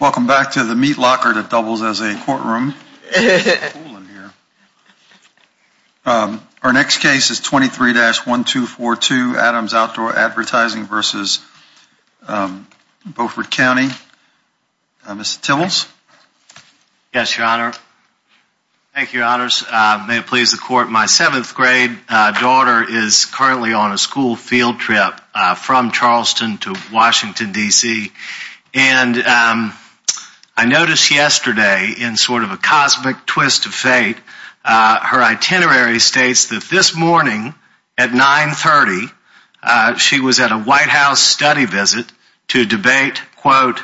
Welcome back to the meat locker that doubles as a courtroom. Our next case is 23-1242 Adams Outdoor Advertising v. Beaufort County. Mr. Timmels. Yes, your honor. Thank you, your honors. May it please the court, my seventh grade daughter is currently on a school field trip from Charleston to Washington, D.C. And I noticed yesterday in sort of a cosmic twist of fate, her itinerary states that this morning at 930, she was at a White House study visit to debate, quote,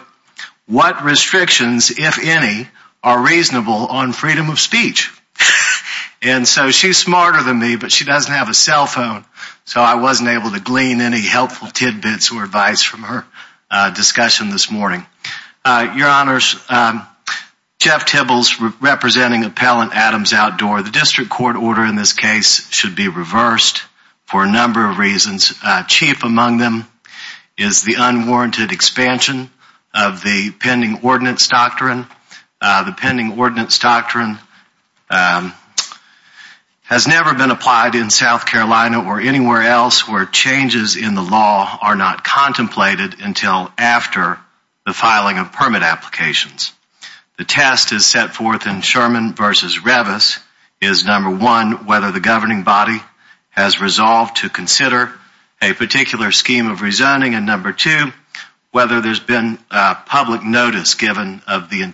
what restrictions, if any, are reasonable on freedom of speech. And so she's smarter than me, but she doesn't have a cell phone. So I wasn't able to glean any helpful tidbits or advice from her discussion this morning. Your honors, Jeff Timmels representing Appellant Adams Outdoor. The district court order in this case should be reversed for a number of reasons. Chief among them is the unwarranted expansion of the pending ordinance doctrine. The pending ordinance doctrine has never been applied in South Carolina or anywhere else where changes in the law are not contemplated until after the filing of permit applications. The test is set forth in Sherman v. Revis is, number one, whether the governing body has resolved to consider a particular scheme of rezoning, and number two, whether there's been public notice given of the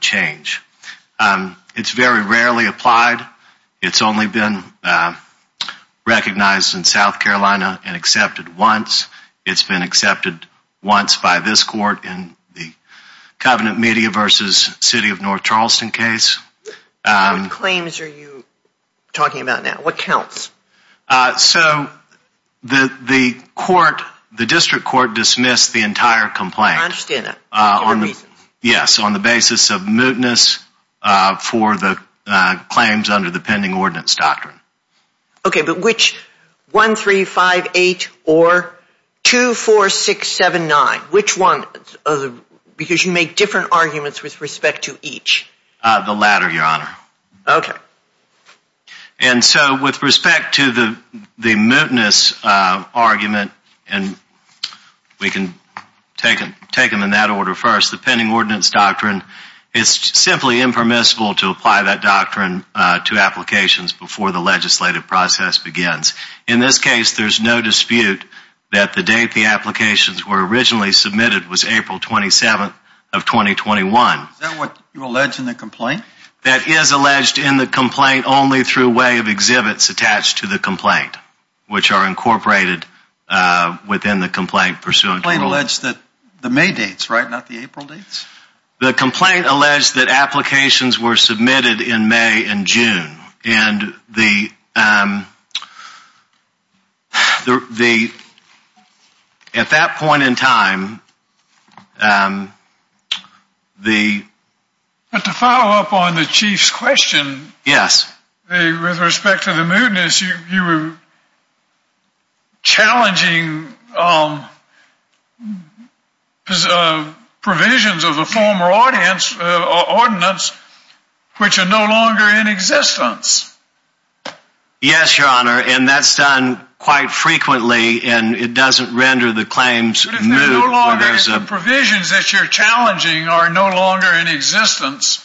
change. It's very rarely applied. It's only been recognized in South Carolina and accepted once. It's been accepted once by this court in the Covenant Media v. City of North Charleston case. What claims are you talking about now? What counts? So the court, the district court dismissed the entire complaint. I understand that. Yes, on the basis of mootness for the claims under the pending ordinance doctrine. Okay, but which, 1-3-5-8 or 2-4-6-7-9? Which one? Because you make different arguments with respect to each. The latter, your honor. Okay. And so with respect to the mootness argument, and we can take them in that order first, the pending ordinance doctrine is simply impermissible to apply that doctrine to applications before the legislative process begins. In this case, there's no dispute that the date the applications were originally submitted was April 27th of 2021. Is that what you allege in the complaint? That is alleged in the complaint only through way of exhibits attached to the complaint, which are incorporated within the complaint pursuant to rule. The complaint alleged that the May dates, right? Not the April dates? The complaint alleged that applications were submitted in May and June. And the, at that point in time, the. But to follow up on the chief's question. Yes. With respect to the mootness, you were challenging provisions of the former ordinance, which are no longer in existence. Yes, your honor. And that's done quite frequently and it doesn't render the claims moot. No longer, the provisions that you're challenging are no longer in existence.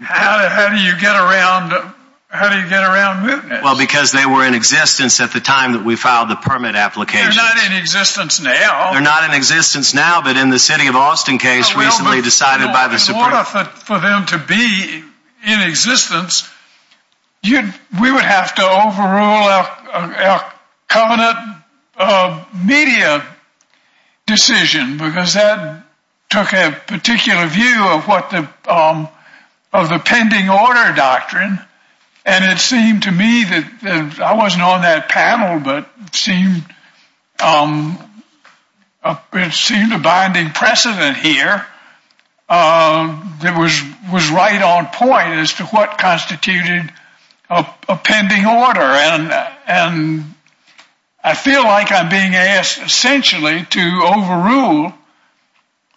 How do you get around? How do you get around mootness? Well, because they were in existence at the time that we filed the permit application. They're not in existence now. They're not in existence now, but in the city of Austin case recently decided by the. In order for them to be in existence, we would have to overrule our covenant media decision because that took a particular view of what the, of the pending order doctrine. And it seemed to me that I wasn't on that panel, but it seemed, it seemed a binding precedent here that was right on point as to what constituted a pending order. And I feel like I'm being asked essentially to overrule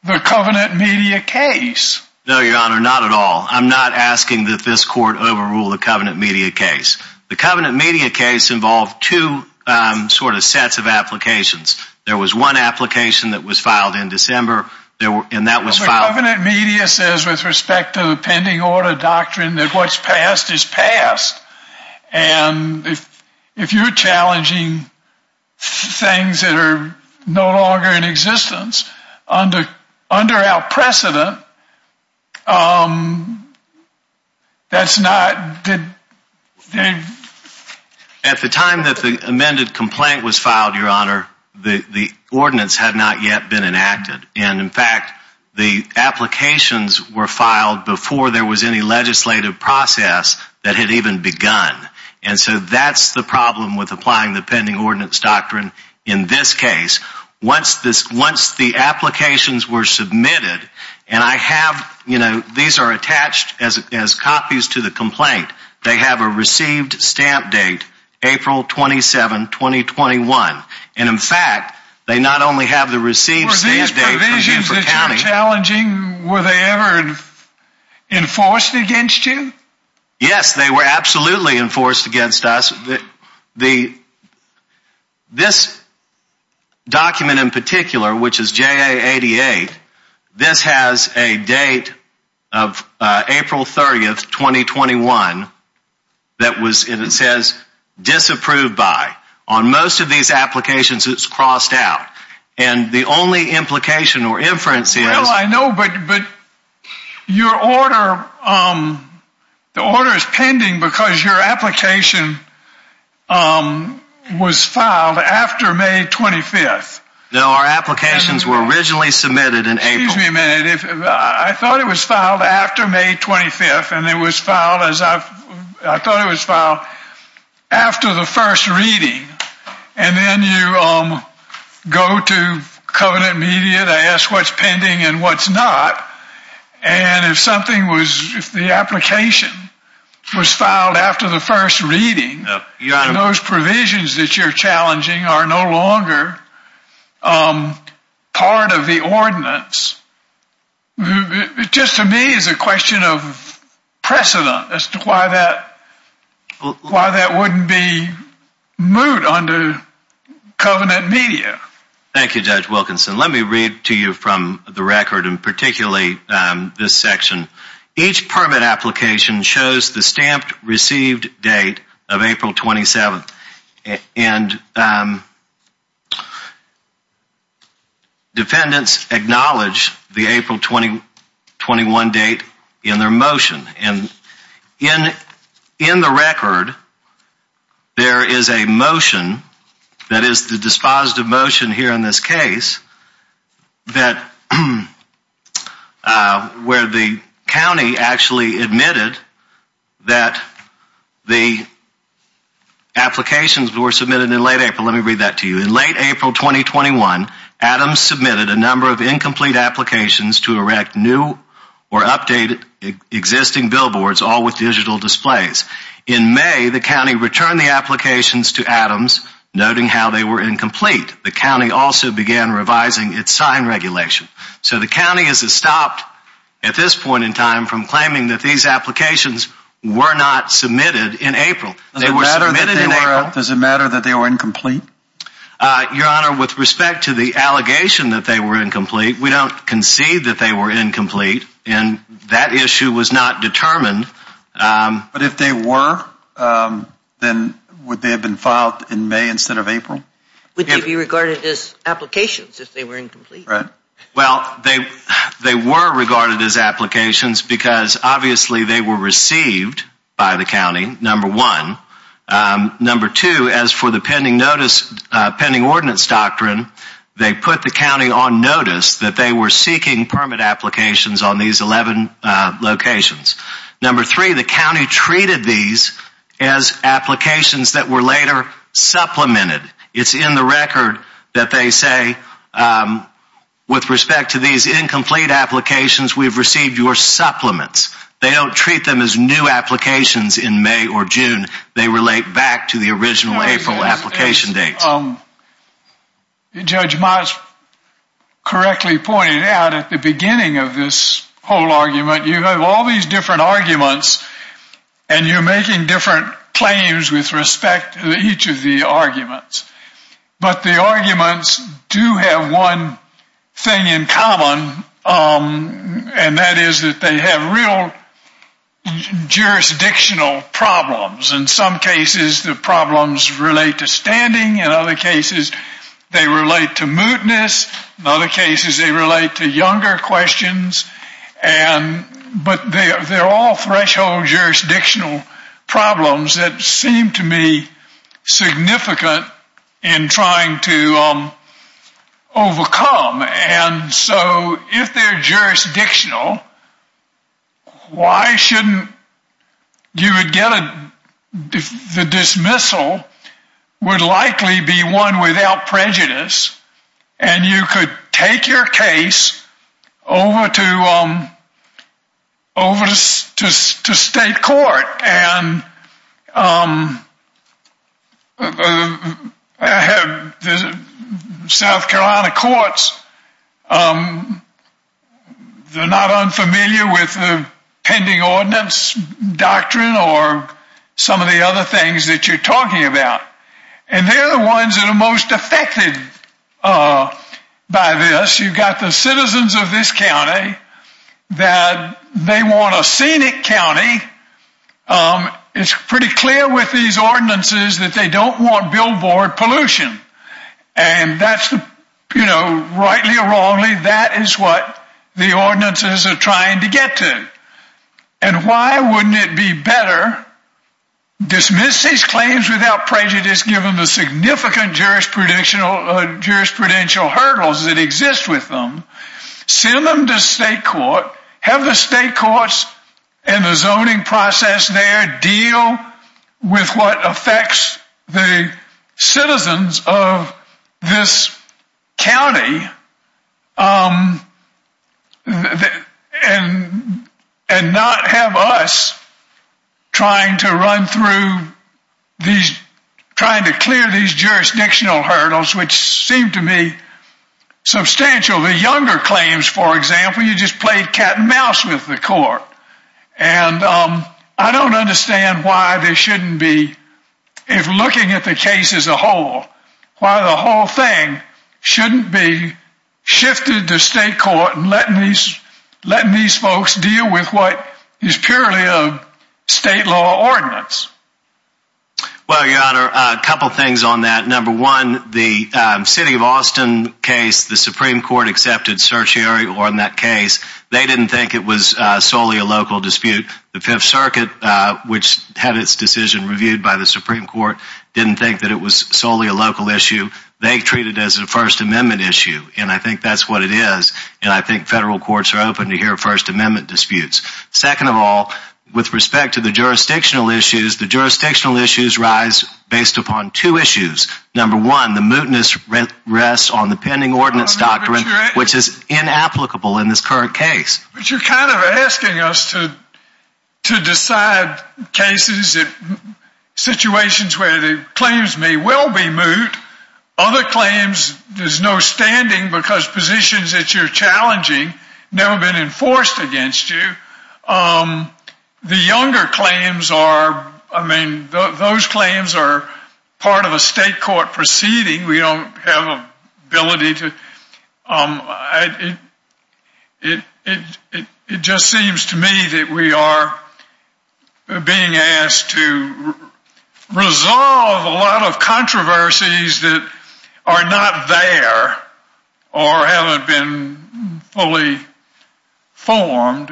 the covenant media case. No, your honor, not at all. I'm not asking that this court overrule the covenant media case. The covenant media case involved two sort of sets of applications. There was one application that was filed in December and that was filed. The covenant media says with respect to the if you're challenging things that are no longer in existence under, under our precedent, that's not. At the time that the amended complaint was filed, your honor, the ordinance had not yet been enacted. And in fact, the applications were filed before there was any legislative process that had even begun. And so that's the problem with applying the pending ordinance doctrine. In this case, once this, once the applications were submitted and I have, you know, these are attached as, as copies to the complaint, they have a received stamp date, April 27, 2021. And in fact, they not only have the received. Were these provisions that you were challenging, were they ever enforced against you? Yes, they were absolutely enforced against us. The, this document in particular, which is JA88, this has a date of April 30th, 2021. That was, and it says disapproved by on most of these applications, it's crossed out. And the only implication or inference is. I know, but, but your order, the order is pending because your application was filed after May 25th. No, our applications were originally submitted in April. Excuse me a minute. I thought it was filed after May 25th and it was filed as I've, I thought it was filed after the first reading. And then you go to covenant media, they ask what's pending and what's not. And if something was, if the application was filed after the first reading, those provisions that you're challenging are no longer part of the ordinance. It just to me is a question of precedent as to why that, why that wouldn't be moot under covenant media. Thank you, Judge Wilkinson. Let me read to you from the record and particularly this section. Each permit application shows the stamped received date of April 27th and defendants acknowledge the April 2021 date in their motion. And in, in the record, there is a motion that is the dispositive motion here in this case that, where the county actually admitted that the applications were submitted in late April. Let me read that to you. In late April, 2021, Adams submitted a number of incomplete applications to erect new or updated existing billboards, all with digital displays. In May, the county returned the applications to Adams noting how they were incomplete. The county also began revising its sign regulation. So the county has stopped at this point in time from claiming that these applications were not submitted in April. Does it matter that they were incomplete? Uh, Your Honor, with respect to the allegation that they were incomplete, we don't concede that they were incomplete and that issue was not determined. But if they were, um, then would they have been filed in May instead of April? Would they be regarded as applications if they were incomplete? Right. Well, they, they were regarded as applications because obviously they were pending ordinance doctrine. They put the county on notice that they were seeking permit applications on these 11 locations. Number three, the county treated these as applications that were later supplemented. It's in the record that they say, um, with respect to these incomplete applications, we've received your supplements. They don't treat them as new applications in May or June. They relate back to the original April application dates. Judge Miles correctly pointed out at the beginning of this whole argument, you have all these different arguments and you're making different claims with respect to each of the arguments. But the arguments do have one thing in common. Um, and that is that they have real jurisdictional problems. In some cases, the problems relate to standing. In other cases, they relate to mootness. In other cases, they relate to younger questions. And, but they, they're all threshold jurisdictional problems that seem to me significant in trying to, um, you would get a, the dismissal would likely be one without prejudice and you could take your case over to, um, over to state court. And, um, I have the South Carolina courts, um, they're not unfamiliar with the pending ordinance doctrine or some of the other things that you're talking about. And they're the ones that are most affected, uh, by this. You've got the citizens of this county that they want a scenic county. Um, it's pretty clear with these that is what the ordinances are trying to get to. And why wouldn't it be better? Dismiss these claims without prejudice, given the significant jurisprudential, jurisprudential hurdles that exist with them, send them to state court, have the state courts and the zoning process there deal with what affects the citizens of this county. Um, and not have us trying to run through these, trying to clear these jurisdictional hurdles, which seem to me substantial. The younger claims, for example, you just played cat and mouse with the court. And, um, I don't understand why they shouldn't be, if looking at the case as a whole, why the whole thing shouldn't be shifted to state court and letting these, letting these folks deal with what is purely a state law ordinance. Well, your honor, a couple of things on that. Number one, the, um, city of Austin case, the Supreme court accepted certiorari on that case. They didn't think it was solely a local dispute. The fifth circuit, uh, which had its decision reviewed by the Supreme court, didn't think that it was solely a local issue. They treat it as a first amendment issue. And I think that's what it is. And I think federal courts are open to hear first amendment disputes. Second of all, with respect to the jurisdictional issues, the jurisdictional issues rise based upon two issues. Number one, the mootness rest on the pending ordinance doctrine, which is inapplicable in this current case. But you're kind of asking us to, to decide cases, situations where the claims may well be moot. Other claims, there's no standing because positions that you're challenging never been enforced against you. Um, the younger claims are, I mean, those claims are part of a state court proceeding. We don't have a ability to, um, I, it, it, it, it just seems to me that we are being asked to resolve a lot of controversies that are not there or haven't been fully formed.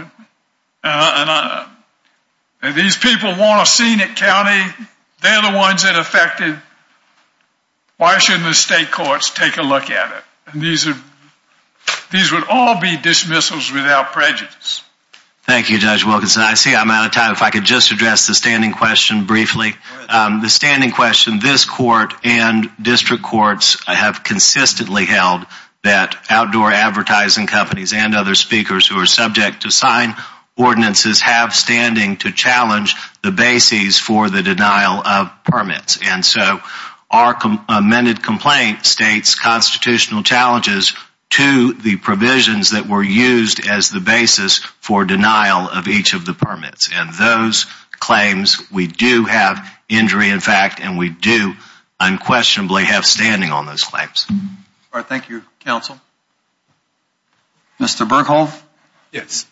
These people want a scenic county. They're the ones that affected, and why shouldn't the state courts take a look at it? And these are, these would all be dismissals without prejudice. Thank you, Judge Wilkinson. I see I'm out of time. If I could just address the standing question briefly, um, the standing question, this court and district courts have consistently held that outdoor advertising companies and other speakers who are subject to sign ordinances have standing to challenge the bases for the denial of permits. And so our amended complaint states constitutional challenges to the provisions that were used as the basis for denial of each of the permits. And those claims, we do have injury in fact, and we do unquestionably have standing on those claims. All right. Thank you, counsel. Mr. Berkhold. Yes.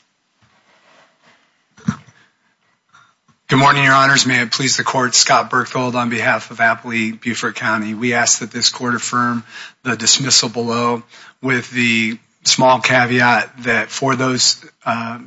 Good morning, your honors. May it please the court, Scott Berkhold on behalf of Applee-Buford County. We ask that this court affirm the dismissal below with the small caveat that for those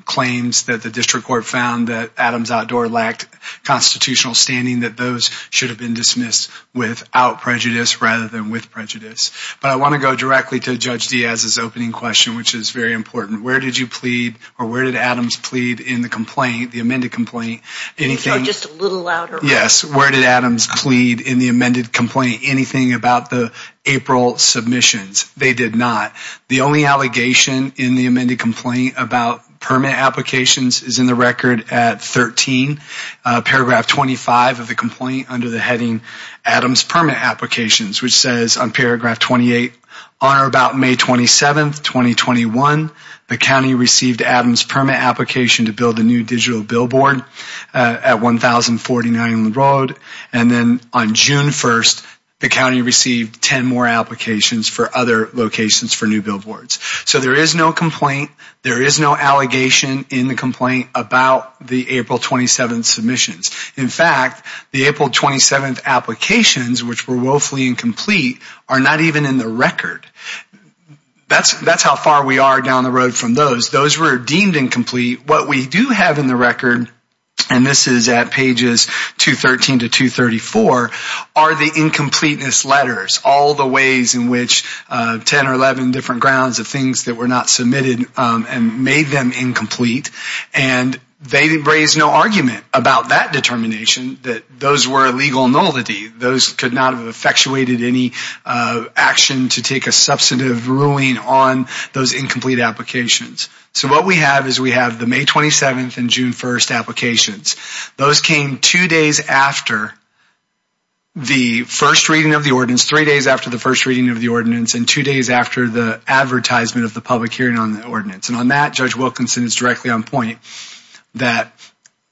claims that the district court found that Adams Outdoor lacked constitutional standing, that those should have been dismissed without prejudice rather than with prejudice. But I want to go directly to Judge Diaz's opening question, which is very important. Where did you plead or where did Adams plead in the complaint, the amended complaint? Anything just a little louder. Yes. Where did Adams plead in the amended complaint? Anything about the April submissions? They did not. The only allegation in the amended complaint about permit applications is in the record at 13, paragraph 25 of the complaint under the heading Adams permit applications, which says on paragraph 28, on or about May 27th, 2021, the county received Adams permit application to build a new digital billboard at 1049 Road. And then on June 1st, the county received 10 more applications for other locations for new billboards. So there is no complaint. There is no allegation in the complaint about the April 27th submissions. In fact, the April 27th applications, which were woefully incomplete, are not even in the record. That's how far we are down the road from those. Those were deemed incomplete. What we do have in the record, and this is at pages 213 to 234, are the incompleteness letters, all the ways in which 10 or 11 different grounds of things that were not submitted and made them incomplete. And they raised no argument about that determination that those were a legal nullity. Those could not have any action to take a substantive ruling on those incomplete applications. So what we have is we have the May 27th and June 1st applications. Those came two days after the first reading of the ordinance, three days after the first reading of the ordinance, and two days after the advertisement of the public hearing on the ordinance. And on that, Judge Wilkinson is directly on point that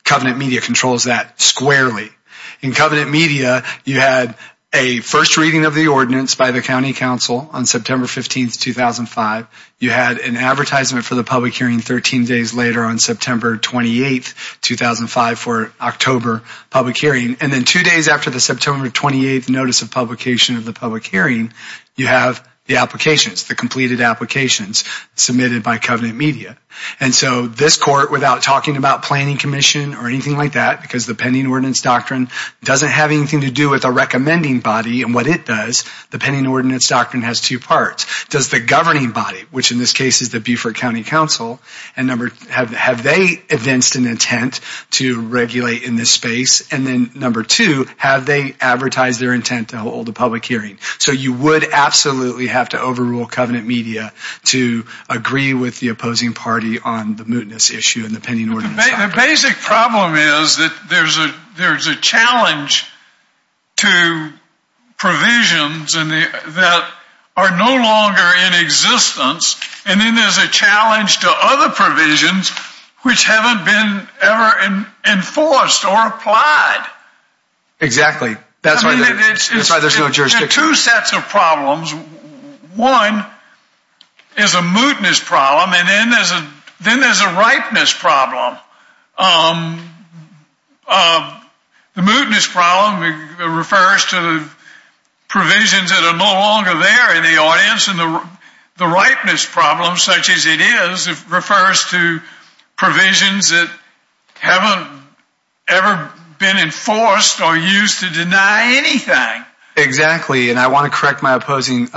Covenant Media controls that squarely. In Covenant Media, you had a first reading of the ordinance by the County Council on September 15th, 2005. You had an advertisement for the public hearing 13 days later on September 28th, 2005 for October public hearing. And then two days after the September 28th notice of publication of the public hearing, you have the applications, the completed applications submitted by Covenant Media. And so this court, without talking about planning commission or anything like that, because the pending ordinance doctrine doesn't have anything to do with a recommending body and what it does, the pending ordinance doctrine has two parts. Does the governing body, which in this case is the Beaufort County Council, have they evinced an intent to regulate in this space? And then number two, have they advertised their intent to hold a public hearing? So you would absolutely have to overrule Covenant Media to agree with the opposing party on the mootness issue and the pending ordinance. The basic problem is that there's a challenge to provisions that are no longer in existence. And then there's a challenge to other provisions which haven't been ever enforced or applied. Exactly. That's why there's no jurisdiction. There are two sets of problems. One is a mootness problem and then there's a ripeness problem. The mootness problem refers to the provisions that are no longer there in the audience and the ripeness problem, such as it is, refers to provisions that haven't ever been enforced or I want to correct my opposing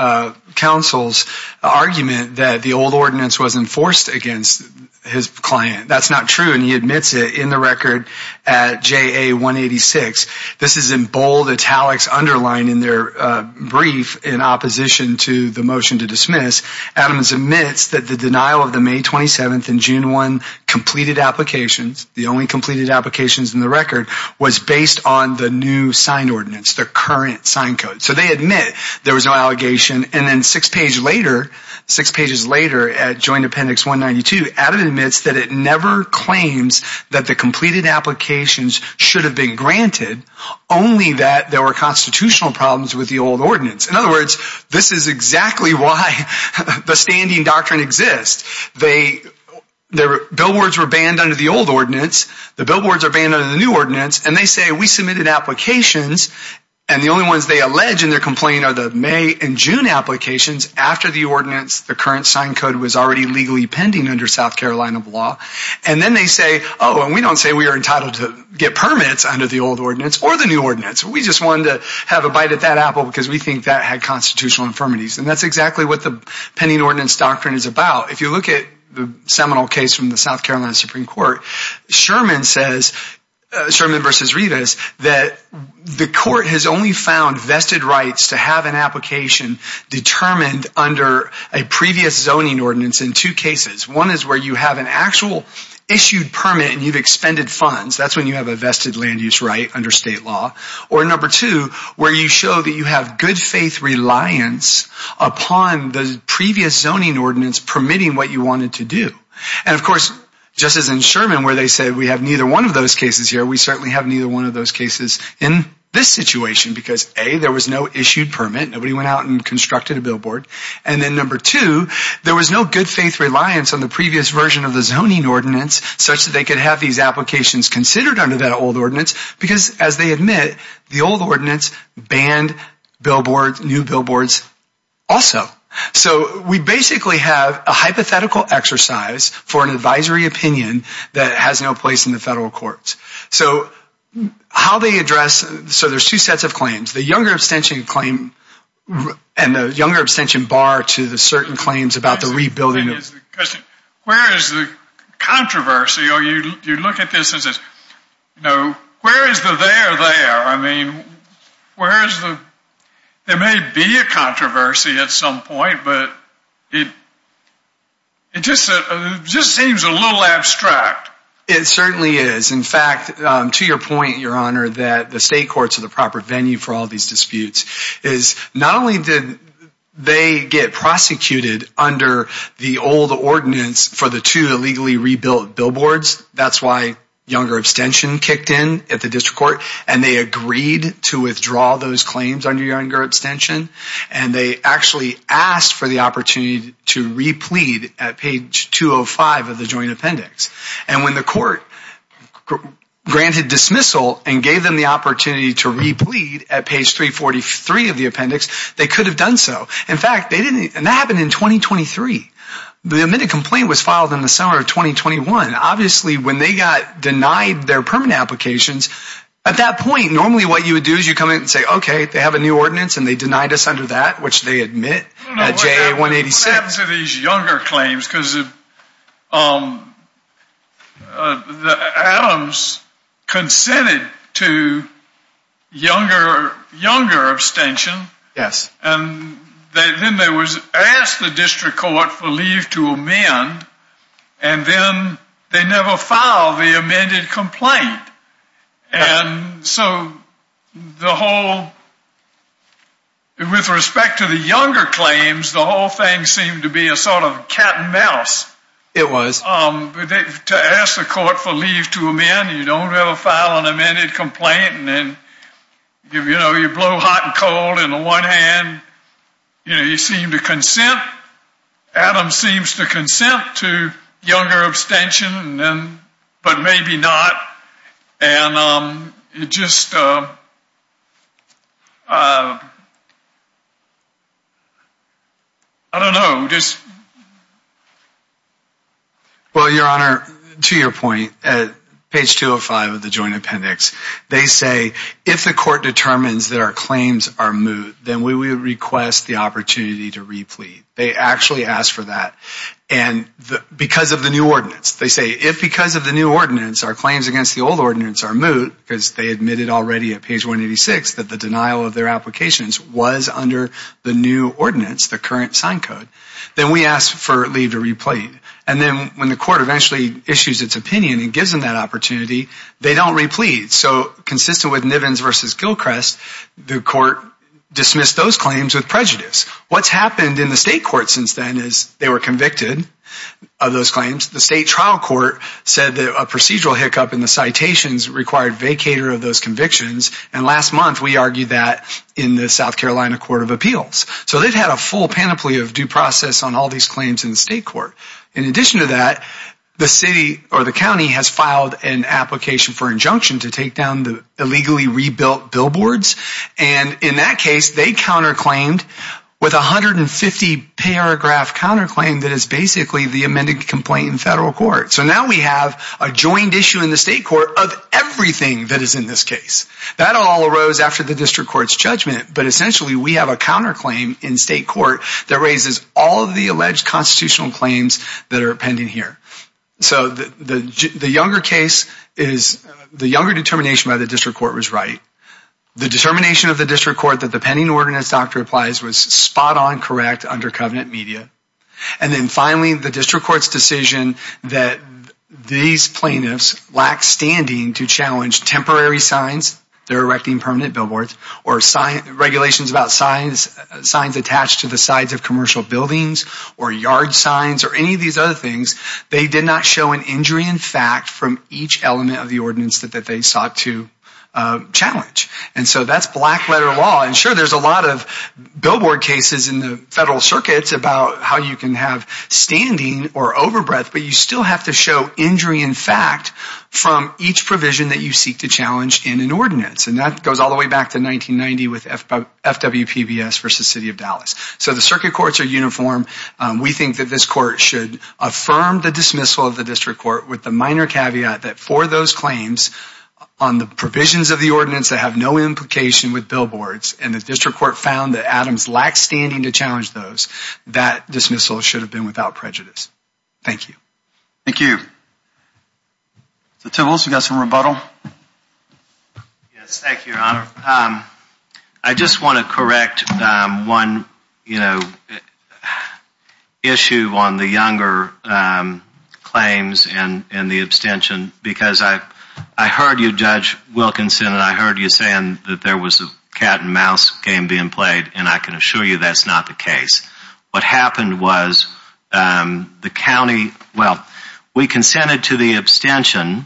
counsel's argument that the old ordinance was enforced against his client. That's not true and he admits it in the record at JA 186. This is in bold italics underlined in their brief in opposition to the motion to dismiss. Adams admits that the denial of the May 27th and June 1 completed applications, the only completed applications in the record, was based on the new signed ordinance, the current signed code. So they admit there was no allegation and then six pages later, six pages later at joint appendix 192, Adam admits that it never claims that the completed applications should have been granted, only that there were constitutional problems with the old ordinance. In other words, this is exactly why the standing doctrine exists. The billboards were banned under the old ordinance, the billboards are banned under the new ordinance, and they say we submitted applications and the only ones they allege in their complaint are the May and June applications after the ordinance, the current signed code, was already legally pending under South Carolina law and then they say oh and we don't say we are entitled to get permits under the old ordinance or the new ordinance. We just wanted to have a bite at that apple because we think that had constitutional infirmities and that's exactly what the pending ordinance doctrine is about. If you look at the seminal case from the South Carolina Supreme Court, Sherman says, Sherman v. Rivas, that the court has only found vested rights to have an application determined under a previous zoning ordinance in two cases. One is where you have an actual issued permit and you've expended funds, that's when you have a vested land use right under state law. Or number two, where you show that you have good faith reliance upon the previous zoning ordinance permitting what you wanted to do. And of course, just as in Sherman where they said we have neither one of those cases here, we certainly have neither one of those cases in this situation because A, there was no issued permit, nobody went out and constructed a billboard, and then number two, there was no good faith reliance on the previous version of the zoning ordinance such that they could have these applications considered under that old ordinance because as they admit, the old ordinance banned billboards, new billboards also. So we basically have a hypothetical exercise for an advisory opinion that has no place in the federal courts. So how they address, so there's two sets of claims, the younger abstention claim and the younger abstention bar to the certain claims about the rebuilding. Where is the controversy? Or you look at this as, you know, where is the there there? I mean, where is the, there may be a controversy at some point, but it just seems a little abstract. It certainly is. In fact, to your point, your honor, that the state courts are the proper venue for all these disputes is not only did they get prosecuted under the old ordinance for the two illegally rebuilt billboards, that's why younger abstention kicked in at the district court, and they agreed to withdraw those claims under younger abstention, and they actually asked for the opportunity to replead at page 205 of the joint appendix. And when the court granted dismissal and gave them the opportunity to replead at page 343 of the appendix, they could have done so. In fact, they didn't, and that happened in 2023. The admitted complaint was filed in the summer of 2021. Obviously, when they got denied their permanent applications, at that point, normally what you would do is you come in and say, okay, they have a new ordinance and they denied us under that, which they admit at JA 186. What happens to these younger claims? Because Adams consented to younger abstention, and then they asked the district court for leave to amend, and then they never filed the amended complaint. And so the whole, with respect to the younger claims, the whole thing seemed to be a sort of cat and mouse. It was. To ask the court for leave to amend, you don't have a file on amended complaint, and then you know, you blow hot and cold in the one hand, you know, you seem to consent. Adams seems to consent to younger abstention, but maybe not. And it just, um, I don't know. Well, your honor, to your point, at page 205 of the joint appendix, they say, if the court determines that our claims are moot, then we would request the opportunity to replete. They actually asked for that. And because of the new ordinance, they say, if because of the new ordinance, the current sign code, then we ask for leave to replete. And then when the court eventually issues its opinion and gives them that opportunity, they don't replete. So consistent with Nivens v. Gilchrist, the court dismissed those claims with prejudice. What's happened in the state court since then is they were convicted of those claims. The state trial court said that procedural hiccup in the citations required vacator of those convictions. And last month, we argued that in the South Carolina Court of Appeals. So they've had a full panoply of due process on all these claims in the state court. In addition to that, the city or the county has filed an application for injunction to take down the illegally rebuilt billboards. And in that case, they counterclaimed with 150 paragraph counterclaim that is basically the amended complaint in federal court. So now we have a joined issue in the state court of everything that is in this case. That all arose after the district court's judgment. But essentially, we have a counterclaim in state court that raises all of the alleged constitutional claims that are pending here. So the younger case is the younger determination by the district court was right. The determination of the district court that the pending ordinance doctor applies was spot on correct under covenant media. And then finally, the district court's decision that these plaintiffs lack standing to challenge temporary signs, their erecting permanent billboards or regulations about signs, signs attached to the sides of commercial buildings or yard signs or any of these other things. They did not show an injury in fact from each element of the ordinance that they sought to challenge. And so that's black letter law. And sure, there's a lot of billboard cases in the federal circuits about how you can have standing or overbreath, but you still have to show injury in fact from each provision that you seek to challenge in an ordinance. And that goes all the way back to 1990 with FWPBS versus City of Dallas. So the circuit courts are uniform. We think that this court should affirm the dismissal of the district court with the minor caveat that for those claims on the provisions of the ordinance that have no implication with billboards and the district court found that Adams lacked standing to challenge those, that dismissal should have been without prejudice. Thank you. Thank you. So Tibbles, you got some rebuttal? Yes, thank you, your honor. I just want to correct one, you know, issue on the younger claims and the abstention because I heard you, Judge Wilkinson, and I heard you saying that there was a cat and mouse game being played and I can assure you that's not the case. What happened was the county, well, we consented to the abstention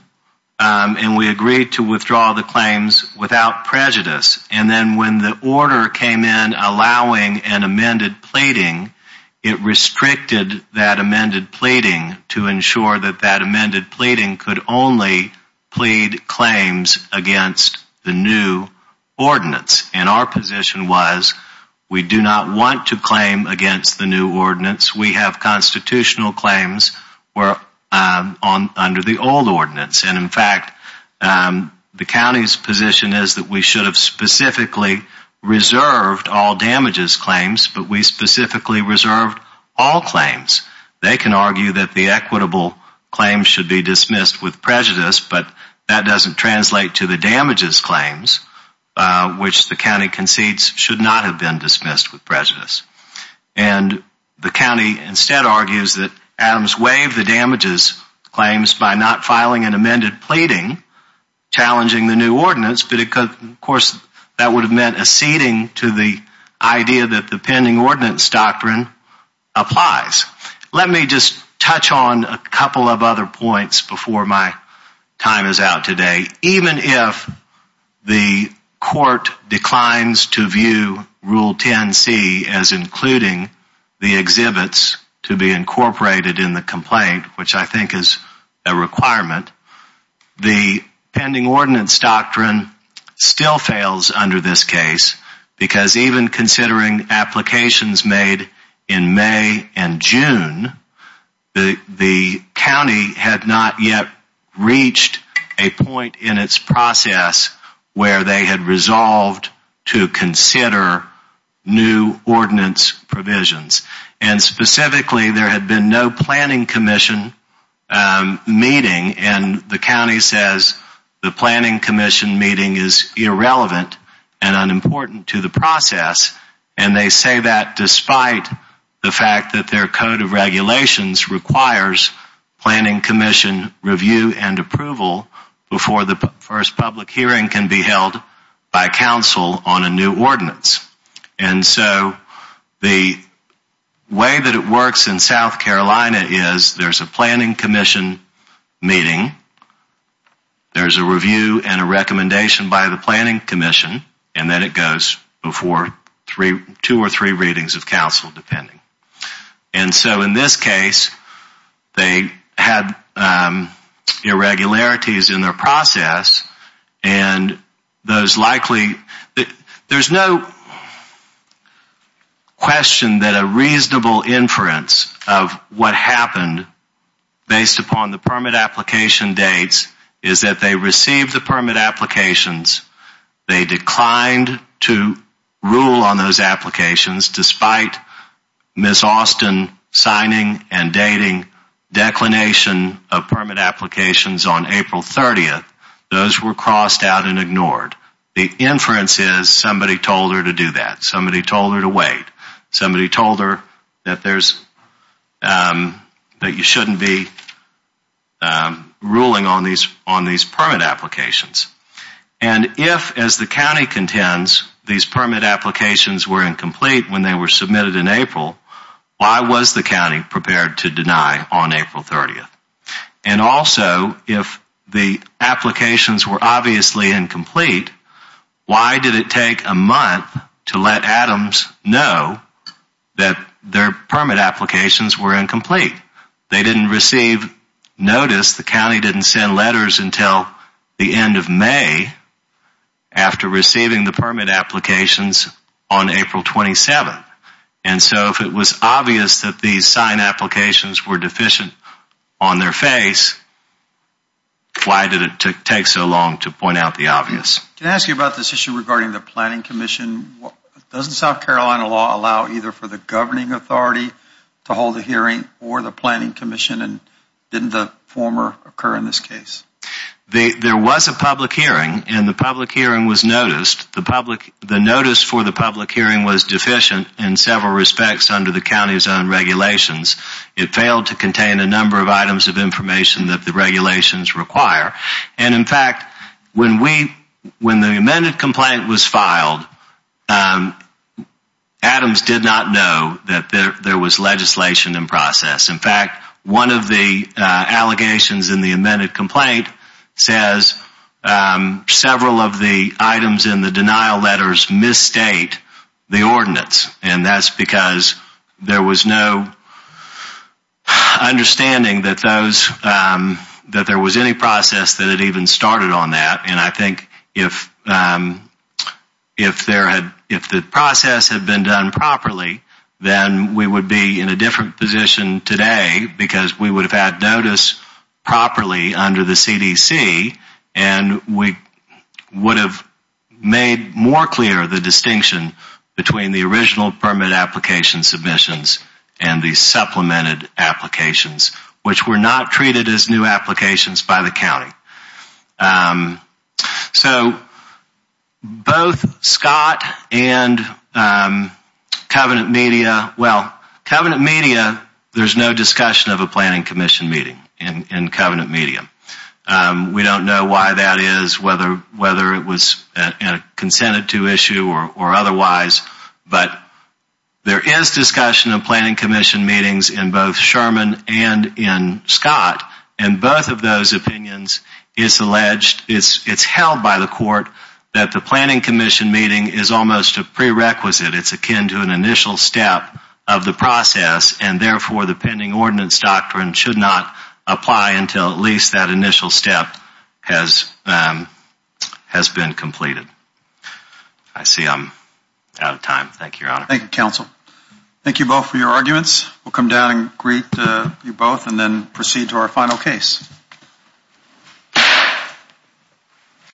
and we agreed to withdraw the claims without prejudice. And then when the order came in allowing an amended pleading, it restricted that amended pleading to ensure that that amended pleading could only plead claims against the new ordinance. And our position was we do not want to claim against the new ordinance. We have constitutional claims under the old ordinance. And in fact, the county's specifically reserved all damages claims, but we specifically reserved all claims. They can argue that the equitable claims should be dismissed with prejudice, but that doesn't translate to the damages claims, which the county concedes should not have been dismissed with prejudice. And the county instead argues that Adams waived the damages claims by not filing an amended pleading challenging the new ordinance, but of course that would have meant acceding to the idea that the pending ordinance doctrine applies. Let me just touch on a couple of other points before my time is out today. Even if the court declines to view Rule 10C as including the pending ordinance doctrine still fails under this case because even considering applications made in May and June, the county had not yet reached a point in its process where they had resolved to consider new ordinance provisions. And specifically there had been no planning commission meeting and the county says the planning commission meeting is irrelevant and unimportant to the process. And they say that despite the fact that their code of regulations requires planning commission review and approval before the first public hearing can be held by council on a planning commission meeting, there's a review and a recommendation by the planning commission and then it goes before two or three readings of council depending. And so in this case they had irregularities in their process and there's no question that a reasonable inference of what happened based upon the permit application dates is that they received the permit applications, they declined to rule on those applications despite Ms. Austin signing and dating declination of permit applications on April 30th. Those were crossed out and ignored. The inference is somebody told her to do that, somebody told her to wait, somebody told her that you shouldn't be ruling on these permit applications. And if as the county contends these permit applications were incomplete when they were submitted in April, why was the county prepared to deny on April 30th? And also if the applications were obviously incomplete, why did it take a month to let Adams know that their permit applications were incomplete? They didn't receive notice, the county didn't send letters until the end of May after receiving the permit applications on April 27th. And so if it was obvious that these sign applications were deficient on their face, why did it take so long to point out the obvious? Can I ask you about this issue regarding the planning commission? Doesn't South Carolina law allow either for the governing authority to hold a hearing or the planning commission and didn't the former occur in this case? There was a public hearing and the public hearing was noticed. The notice for the public hearing was deficient in several respects under the county's own regulations. It failed to contain a number of items of information that the regulations require. And in fact, when the amended complaint was filed, Adams did not know that there was legislation in process. In fact, one of the allegations in the amended complaint says several of the items in the denial letters misstate the ordinance. And that's because there was no understanding that those, that there was any process that had even started on that. And I think if there had, if the process had been done properly, then we would be in a different position today because we would have noticed properly under the CDC and we would have made more clear the distinction between the original permit application submissions and the supplemented applications, which were not treated as new applications by the county. So both Scott and Covenant Media, well, Covenant Media, there's no discussion of a planning commission meeting in Covenant Media. We don't know why that is, whether it was consented to issue or otherwise, but there is discussion of planning commission meetings in both Sherman and in Scott. And both of those opinions, it's alleged, it's held by the court that the planning commission meeting is almost a prerequisite. It's akin to an initial step of the process and therefore the pending ordinance doctrine should not apply until at least that initial step has been completed. I see I'm out of time. Thank you, Your Honor. Thank you, counsel. Thank you both for your arguments. We'll come down and greet you both and then proceed to our final case.